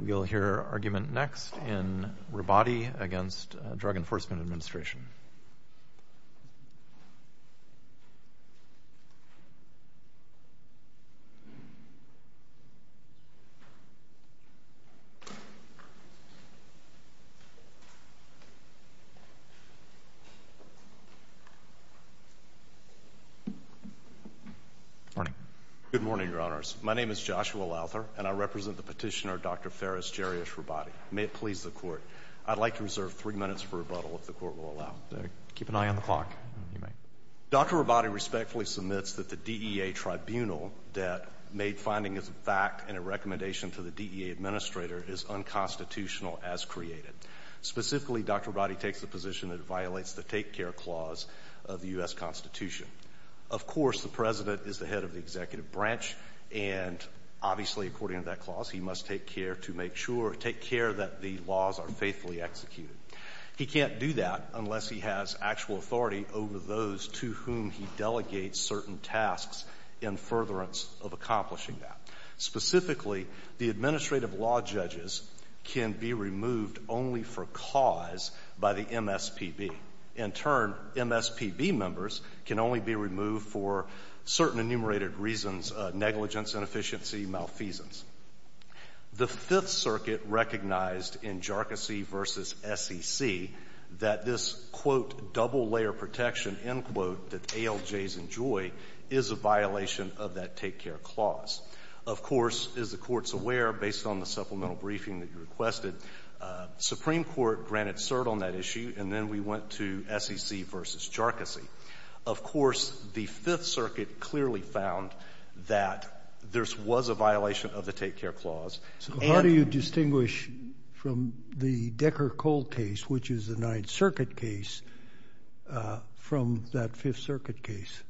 We'll hear argument next in Rabadi against Drug Enforcement Administration. Good morning. Good morning, Your Honors. My name is Joshua Lauther, and I represent the petitioner, Dr. Fares Jarius Rabadi. May it please the Court, I'd like to reserve three minutes for rebuttal, if the Court will allow. Keep an eye on the clock. Dr. Rabadi respectfully submits that the DEA tribunal that made findings of fact and a recommendation to the DEA administrator is unconstitutional as created. Specifically, Dr. Rabadi takes the position that it violates the take care clause of the US Constitution. Of course, the President is the head of the executive branch, and obviously, according to that clause, he must take care to make sure, take care that the laws are faithfully executed. He can't do that unless he has actual authority over those to whom he delegates certain tasks in furtherance of accomplishing that. Specifically, the administrative law judges can be removed only for cause by the MSPB. In turn, MSPB members can only be removed for certain enumerated reasons, negligence, inefficiency, malfeasance. The Fifth Circuit recognized in Jharkhasi v. SEC that this, quote, double-layer protection, end quote, that ALJs enjoy is a violation of that take care clause. Of course, as the Court's aware, based on the supplemental briefing that you requested, Supreme Court granted cert on that issue, and then we went to SEC v. Jharkhasi. Of course, the Fifth Circuit clearly found that this was a violation of the take care clause. So how do you distinguish from the Decker-Cole case, which is the Ninth Circuit case, from that Fifth Circuit case?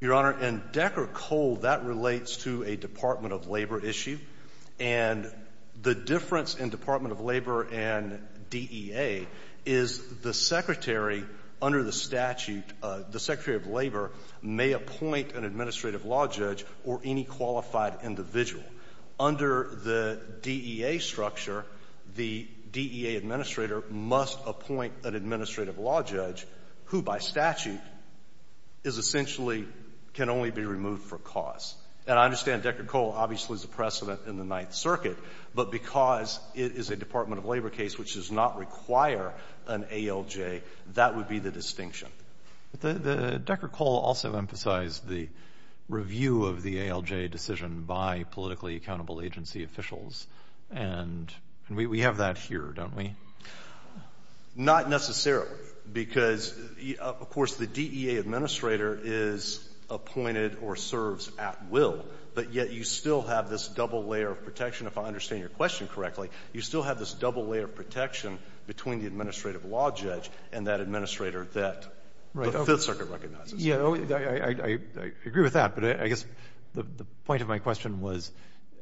Your Honor, in Decker-Cole, that relates to a Department of Labor issue. And the difference in Department of Labor and DEA is the Secretary under the statute, the Secretary of Labor may appoint an administrative law judge or any qualified individual. Under the DEA structure, the DEA administrator must appoint an administrative law judge who by statute is essentially can only be removed for cause. And I understand Decker-Cole obviously is a precedent in the Ninth Circuit, but because it is a Department of Labor case which does not require an ALJ, that would be the distinction. But the Decker-Cole also emphasized the review of the ALJ decision by politically accountable agency officials, and we have that here, don't we? Not necessarily, because, of course, the DEA administrator is appointed or serves at will, but yet you still have this double layer of protection. If I understand your question correctly, you still have this double layer of protection between the administrative law judge and that administrator that the Fifth Circuit recognizes. Yeah. I agree with that. But I guess the point of my question was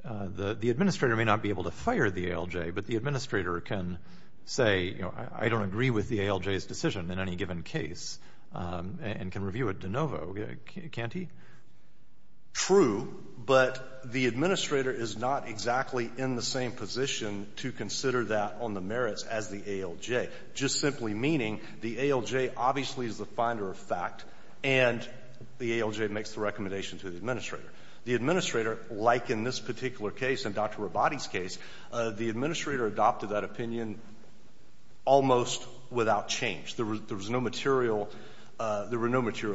the administrator may not be able to fire the ALJ, but the administrator can say, you know, I don't agree with the ALJ's decision in any given case and can review it de novo, can't he? True, but the administrator is not exactly in the same position to consider that on the merits as the ALJ, just simply meaning the ALJ obviously is the finder of fact and the ALJ makes the recommendation to the administrator. The administrator, like in this particular case and Dr. Rabati's case, the administrator adopted that opinion almost without change. There was no material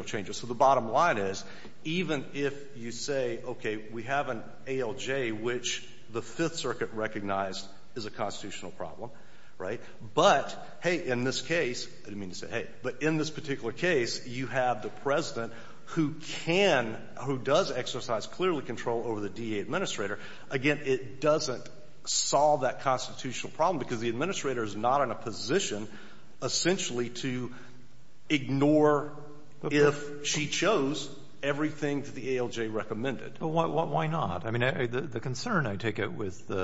changes. So the bottom line is, even if you say, okay, we have an ALJ, which the Fifth Circuit recognized is a constitutional problem, right? But, hey, in this case, I didn't mean to say hey, but in this particular case, you have the president who can, who does exercise clearly control over the DA administrator. Again, it doesn't solve that constitutional problem because the administrator is not in a position essentially to ignore if she chose everything that the ALJ recommended. But why not? I mean, the concern I take it with, you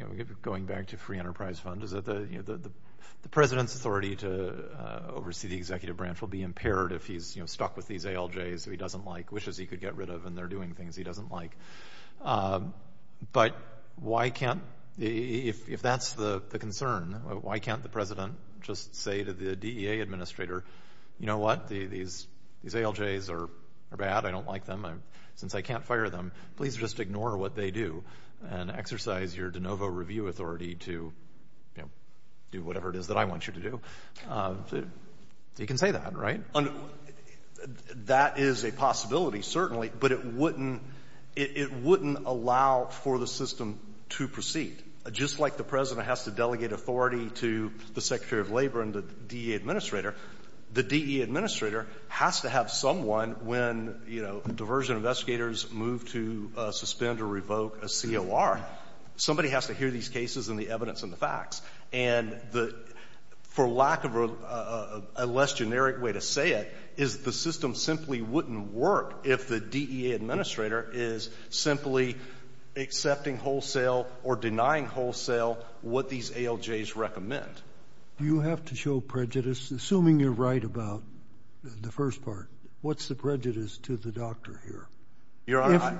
know, going back to free enterprise fund is that the president's authority to oversee the executive branch will be impaired if he's stuck with these ALJs that he doesn't like, wishes he could get rid of and they're doing things he doesn't like. But why can't, if that's the concern, why can't the president just say to the DA administrator, you know what? These ALJs are bad. I don't like them. Since I can't fire them, please just ignore what they do and exercise your de novo review authority to, you know, do whatever it is that I want you to do. He can say that, right? That is a possibility, certainly, but it wouldn't allow for the system to proceed. Just like the president has to delegate authority to the secretary of labor and the DA administrator, the DA administrator has to have someone when, you know, diversion investigators move to suspend or revoke a COR. Somebody has to hear these cases and the evidence and the facts. And the, for lack of a less generic way to say it, is the system simply wouldn't work if the DEA administrator is simply accepting wholesale or denying wholesale what these ALJs recommend. Do you have to show prejudice? Assuming you're right about the first part, what's the prejudice to the doctor here,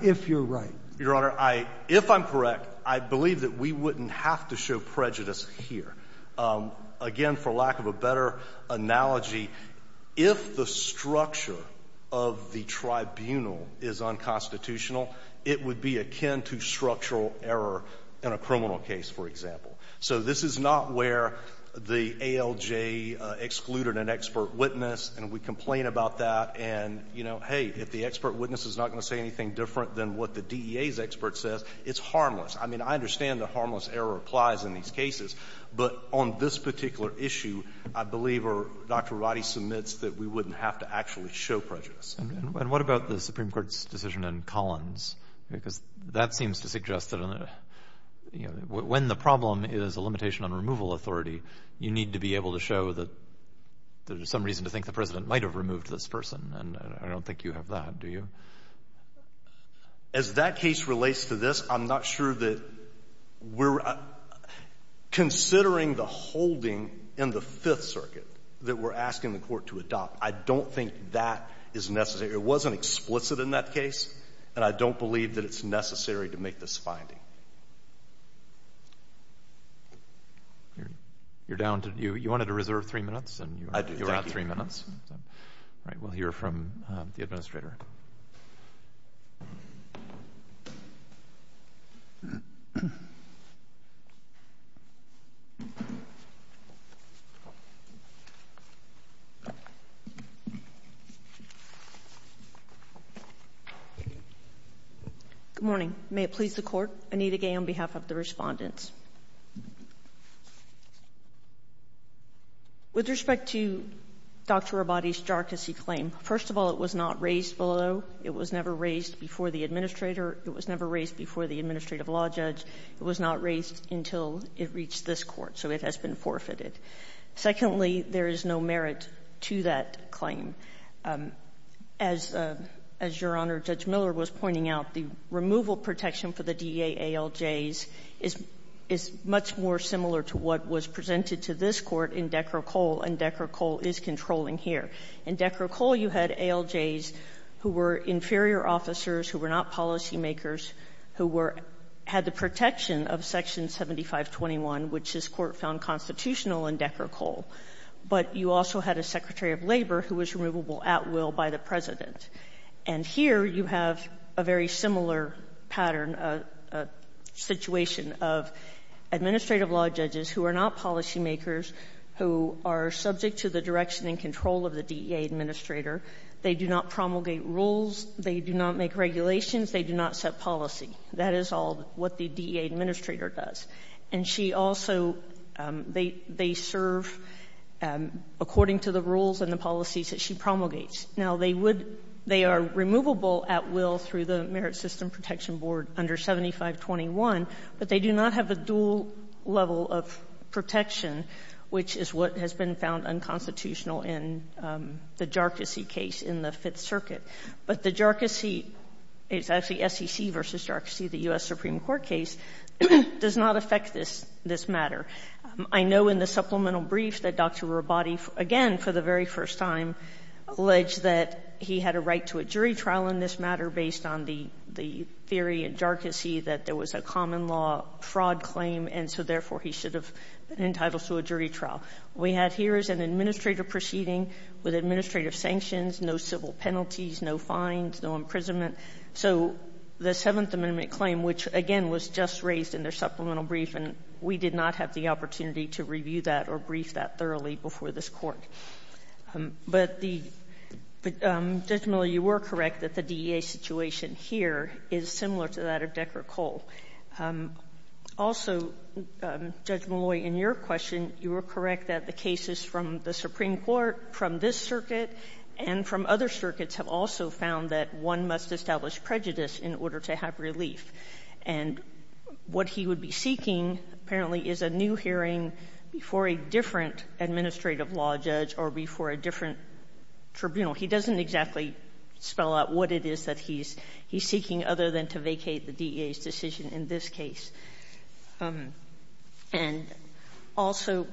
if you're right? Your Honor, I — if I'm correct, I believe that we wouldn't have to show prejudice here. Again, for lack of a better analogy, if the structure of the tribunal is unconstitutional, it would be akin to structural error in a criminal case, for example. So this is not where the ALJ excluded an expert witness and we complain about that and, you know, hey, if the expert witness is not going to say anything different than what the DEA's expert says, it's harmless. I mean, I understand that harmless error applies in these cases, but on this particular issue, I believe Dr. Arati submits that we wouldn't have to actually show prejudice. And what about the Supreme Court's decision in Collins? Because that seems to suggest that, you know, when the problem is a limitation on removal authority, you need to be able to show that there's some reason to think the President might have removed this person, and I don't think you have that, do you? As that case relates to this, I'm not sure that we're — considering the holding in the Fifth Circuit that we're asking the Court to adopt, I don't think that is necessary. It wasn't explicit in that case, and I don't believe that it's necessary to make this finding. You're down to — you wanted to reserve three minutes? I do. You're on three minutes. All right. We'll hear from the Administrator. Good morning. May it please the Court. Anita Gay on behalf of the Respondents. With respect to Dr. Arati's jargassy claim, first of all, it was not raised below. It was never raised before the Administrator. It was never raised before the administrative law judge. It was not raised until it reached this Court, so it has been forfeited. Secondly, there is no merit to that claim. As Your Honor, Judge Miller was pointing out, the removal protection for the DA ALJs is much more similar to what was presented to this Court in Decker Cole, and Decker Cole is controlling here. In Decker Cole, you had ALJs who were inferior officers, who were not policymakers, who were — had the protection of Section 7521, which this Court found constitutional in Decker Cole. But you also had a Secretary of Labor who was removable at will by the President. And here you have a very similar pattern, a situation of administrative law judges who are not policymakers, who are subject to the direction and control of the DEA Administrator. They do not promulgate rules. They do not make regulations. They do not set policy. That is all what the DEA Administrator does. And she also — they serve according to the rules and the policies that she promulgates. Now, they would — they are removable at will through the Merit System Protection Board under 7521, but they do not have a dual level of protection, which is what has been found unconstitutional in the Jarkissi case in the Fifth Circuit. But the Jarkissi — it's actually SEC v. Jarkissi, the U.S. Supreme Court case — does not affect this matter. I know in the supplemental brief that Dr. Rabati, again, for the very first time, alleged that he had a right to a jury trial in this matter based on the theory in Jarkissi that there was a common law fraud claim, and so therefore he should have been entitled to a jury trial. We have here is an administrative proceeding with administrative sanctions, no civil penalties, no fines, no imprisonment. So the Seventh Amendment claim, which, again, was just raised in their supplemental brief, and we did not have the opportunity to review that or brief that thoroughly before this Court. But the — Judge Malloy, you were correct that the DEA situation here is similar to that of Decker Cole. Also, Judge Malloy, in your question, you were correct that the cases from the Supreme Court, from this circuit, and from other circuits have also found that one must establish prejudice in order to have relief. And what he would be seeking, apparently, is a new hearing before a different administrative law judge or before a different tribunal. He doesn't exactly spell out what it is that he's seeking, other than to vacate the DEA's decision in this case. And also,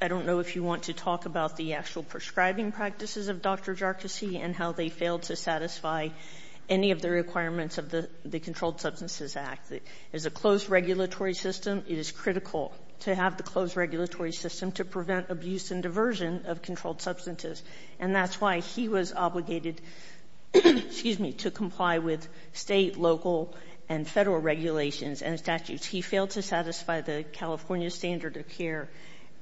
I don't know if you want to talk about the actual prescribing practices of Dr. Jarkozy and how they failed to satisfy any of the requirements of the Controlled Substances Act. It's a closed regulatory system. It is critical to have the closed regulatory system to prevent abuse and diversion of controlled substances. And that's why he was obligated, excuse me, to comply with State, local, and Federal regulations and statutes. He failed to satisfy the California standard of care.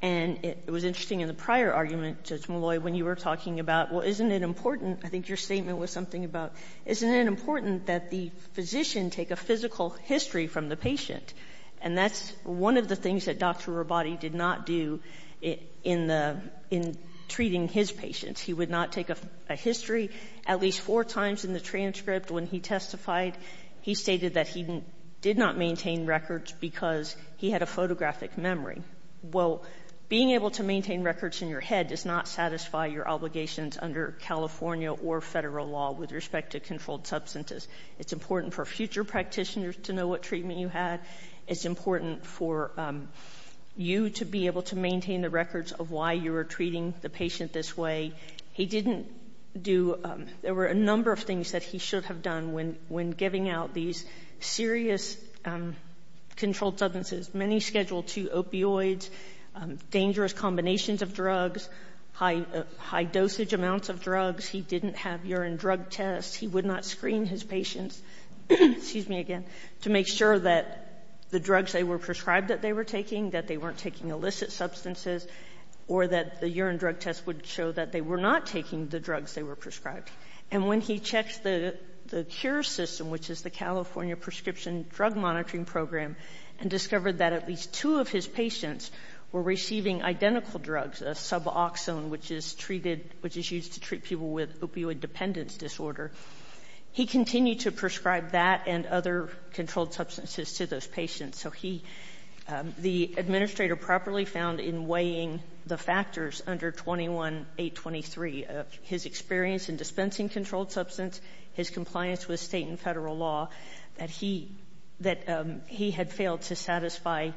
And it was interesting in the prior argument, Judge Molloy, when you were talking about, well, isn't it important, I think your statement was something about, isn't it important that the physician take a physical history from the patient? And that's one of the things that Dr. Rabati did not do in the — in treating his patients. He would not take a history. At least four times in the transcript when he testified, he stated that he did not maintain records because he had a photographic memory. Well, being able to maintain records in your head does not satisfy your obligations under California or Federal law with respect to controlled substances. It's important for future practitioners to know what treatment you had. It's important for you to be able to maintain the records of why you were treating the patient this way. He didn't do — there were a number of things that he should have done when giving out these serious controlled substances. Many Schedule II opioids, dangerous combinations of drugs, high — high dosage amounts of drugs. He didn't have urine drug tests. He would not screen his patients — excuse me again — to make sure that the drugs they were prescribed that they were taking, that they weren't taking illicit substances, or that the urine drug tests would show that they were not taking the drugs they were prescribed. And when he checks the — the cure system, which is the California Prescription Drug Monitoring Program, and discovered that at least two of his patients were receiving identical drugs, a suboxone, which is treated — which is used to treat people with opioid dependence disorder, he continued to prescribe that and other controlled substances to those patients. So he — the administrator properly found in weighing the factors under 21-823 of his experience in dispensing controlled substance, his compliance with State and Federal law, that he — that he had failed to satisfy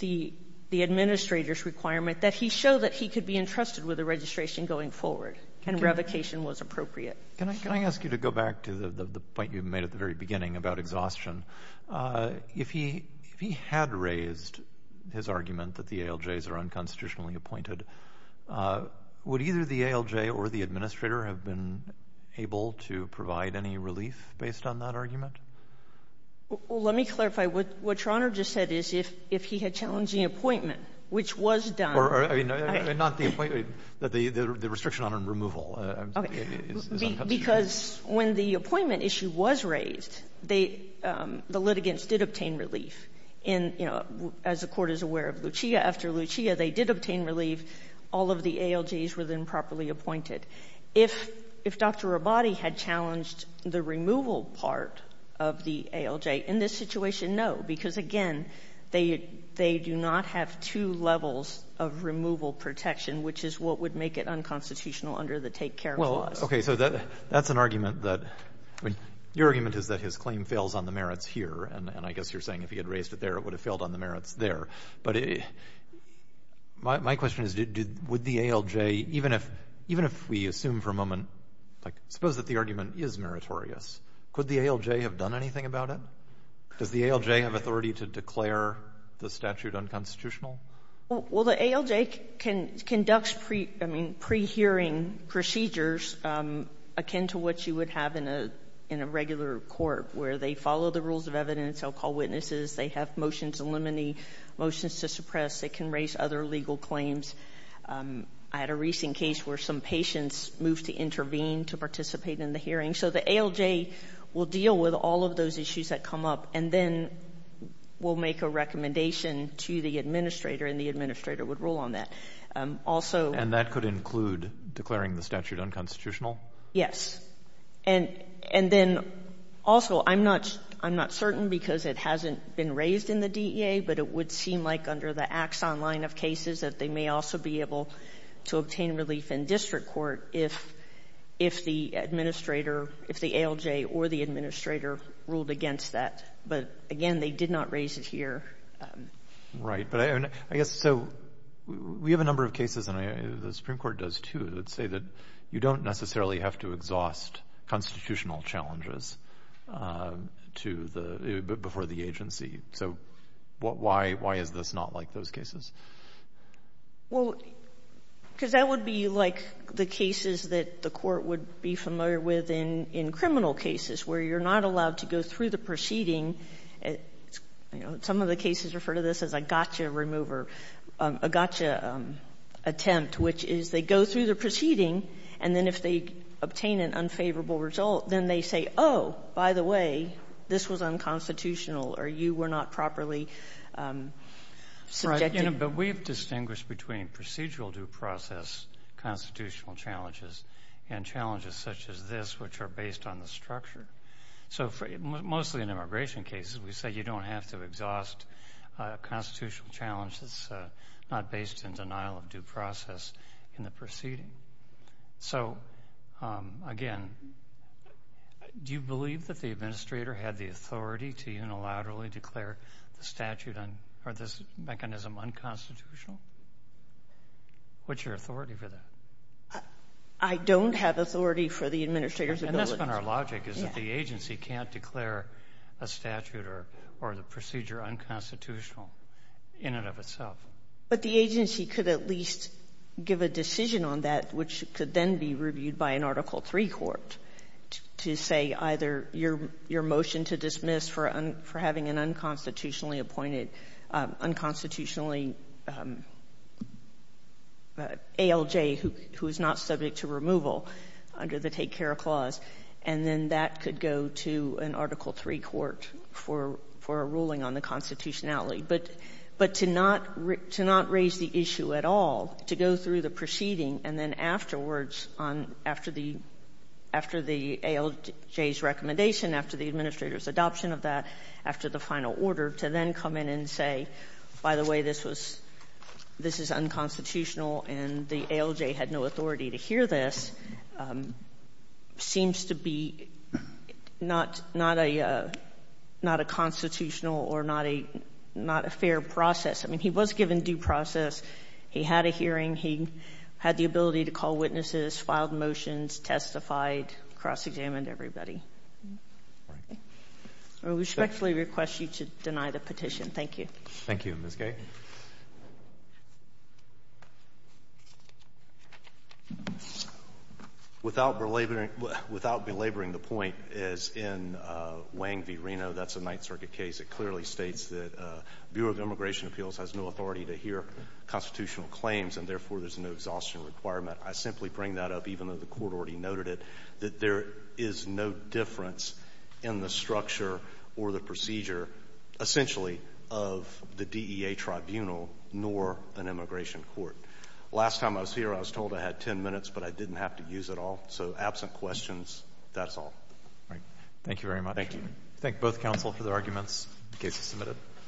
the — the administrator's requirement, that he showed that he could be entrusted with the registration going forward, and revocation was appropriate. Can I — can I ask you to go back to the point you made at the very beginning about exhaustion? If he — if he had raised his argument that the ALJs are unconstitutionally appointed, would either the ALJ or the administrator have been able to provide any relief based on that argument? Well, let me clarify. What Your Honor just said is, if he had challenged the appointment, which was done by — Or — I mean, not the — the restriction on removal is unconstitutional. Because when the appointment issue was raised, they — the litigants did obtain relief in — you know, as the Court is aware of, Lucia after Lucia, they did obtain relief. All of the ALJs were then properly appointed. If — if Dr. Rabati had challenged the removal part of the ALJ, in this situation, no, because again, they — they do not have two levels of removal protection, which is what would make it unconstitutional under the Take Care Clause. Well, okay. So that — that's an argument that — I mean, your argument is that his claim fails on the merits here, and I guess you're saying if he had raised it there, it would have failed on the merits there. But my question is, did — would the ALJ, even if — even if we assume for a moment — like, suppose that the argument is meritorious, could the ALJ have done anything about it? Does the ALJ have authority to declare the statute unconstitutional? Well, the ALJ can — conducts pre — I mean, pre-hearing procedures akin to what you would have in a — in a regular court, where they follow the rules of evidence, they'll call witnesses, they have motions to eliminate, motions to suppress, they can raise other legal claims. I had a recent case where some patients moved to intervene to participate in the hearing. So the ALJ will deal with all of those issues that come up, and then will make a recommendation to the administrator, and the administrator would rule on that. Also — And that could include declaring the statute unconstitutional? Yes. And — and then, also, I'm not — I'm not certain because it hasn't been raised in the DEA, but it would seem like under the Axon line of cases that they may also be able to obtain relief in district court if — if the administrator, if the ALJ or the administrator ruled against that. But, again, they did not raise it here. Right. But I guess — so we have a number of cases, and the Supreme Court does, too, that say that you don't necessarily have to exhaust constitutional challenges to the — before the agency. So why — why is this not like those cases? Well, because that would be like the cases that the court would be familiar with in — in criminal cases, where you're not allowed to go through the proceeding. You know, some of the cases refer to this as a gotcha remover — a gotcha attempt, which is they go through the proceeding, and then if they obtain an unfavorable result, then they say, oh, by the way, this was unconstitutional, or you were not properly subjected. You know, but we have distinguished between procedural due process constitutional challenges and challenges such as this, which are based on the structure. So for — mostly in immigration cases, we say you don't have to exhaust constitutional challenges not based in denial of due process in the proceeding. So, again, do you believe that the administrator had the authority to unilaterally declare the statute on — or this mechanism unconstitutional? What's your authority for that? I don't have authority for the administrator's ability. And that's been our logic, is that the agency can't declare a statute or the procedure unconstitutional in and of itself. But the agency could at least give a decision on that, which could then be reviewed by an Article III court to say either your motion to dismiss for having an unconstitutionally appointed, unconstitutionally — ALJ, who is not subject to removal under the take-care clause, and then that could go to an Article III court for a ruling on the constitutionality But to not raise the issue at all, to go through the proceeding and then afterwards on — after the — after the ALJ's recommendation, after the administrator's adoption of that, after the final order, to then come in and say, by the way, this was — this is unconstitutional and the ALJ had no authority to hear this, seems to be not — not a — not a constitutional or not a — not a fair process. I mean, he was given due process, he had a hearing, he had the ability to call witnesses, filed motions, testified, cross-examined everybody. I respectfully request you to deny the petition. Thank you. Thank you, Ms. Gay. Without belaboring — without belaboring the point, as in Wang v. Reno, that's a Ninth Circuit case, it clearly states that Bureau of Immigration Appeals has no authority to hear constitutional claims and, therefore, there's no exhaustion requirement. I simply bring that up, even though the Court already noted it, that there is no difference in the structure or the procedure, essentially, of the DEA tribunal nor an immigration court. Last time I was here, I was told I had 10 minutes, but I didn't have to use it all, so absent questions, that's all. All right. Thank you very much. Thank you. Thank both counsel for their arguments. The case is submitted.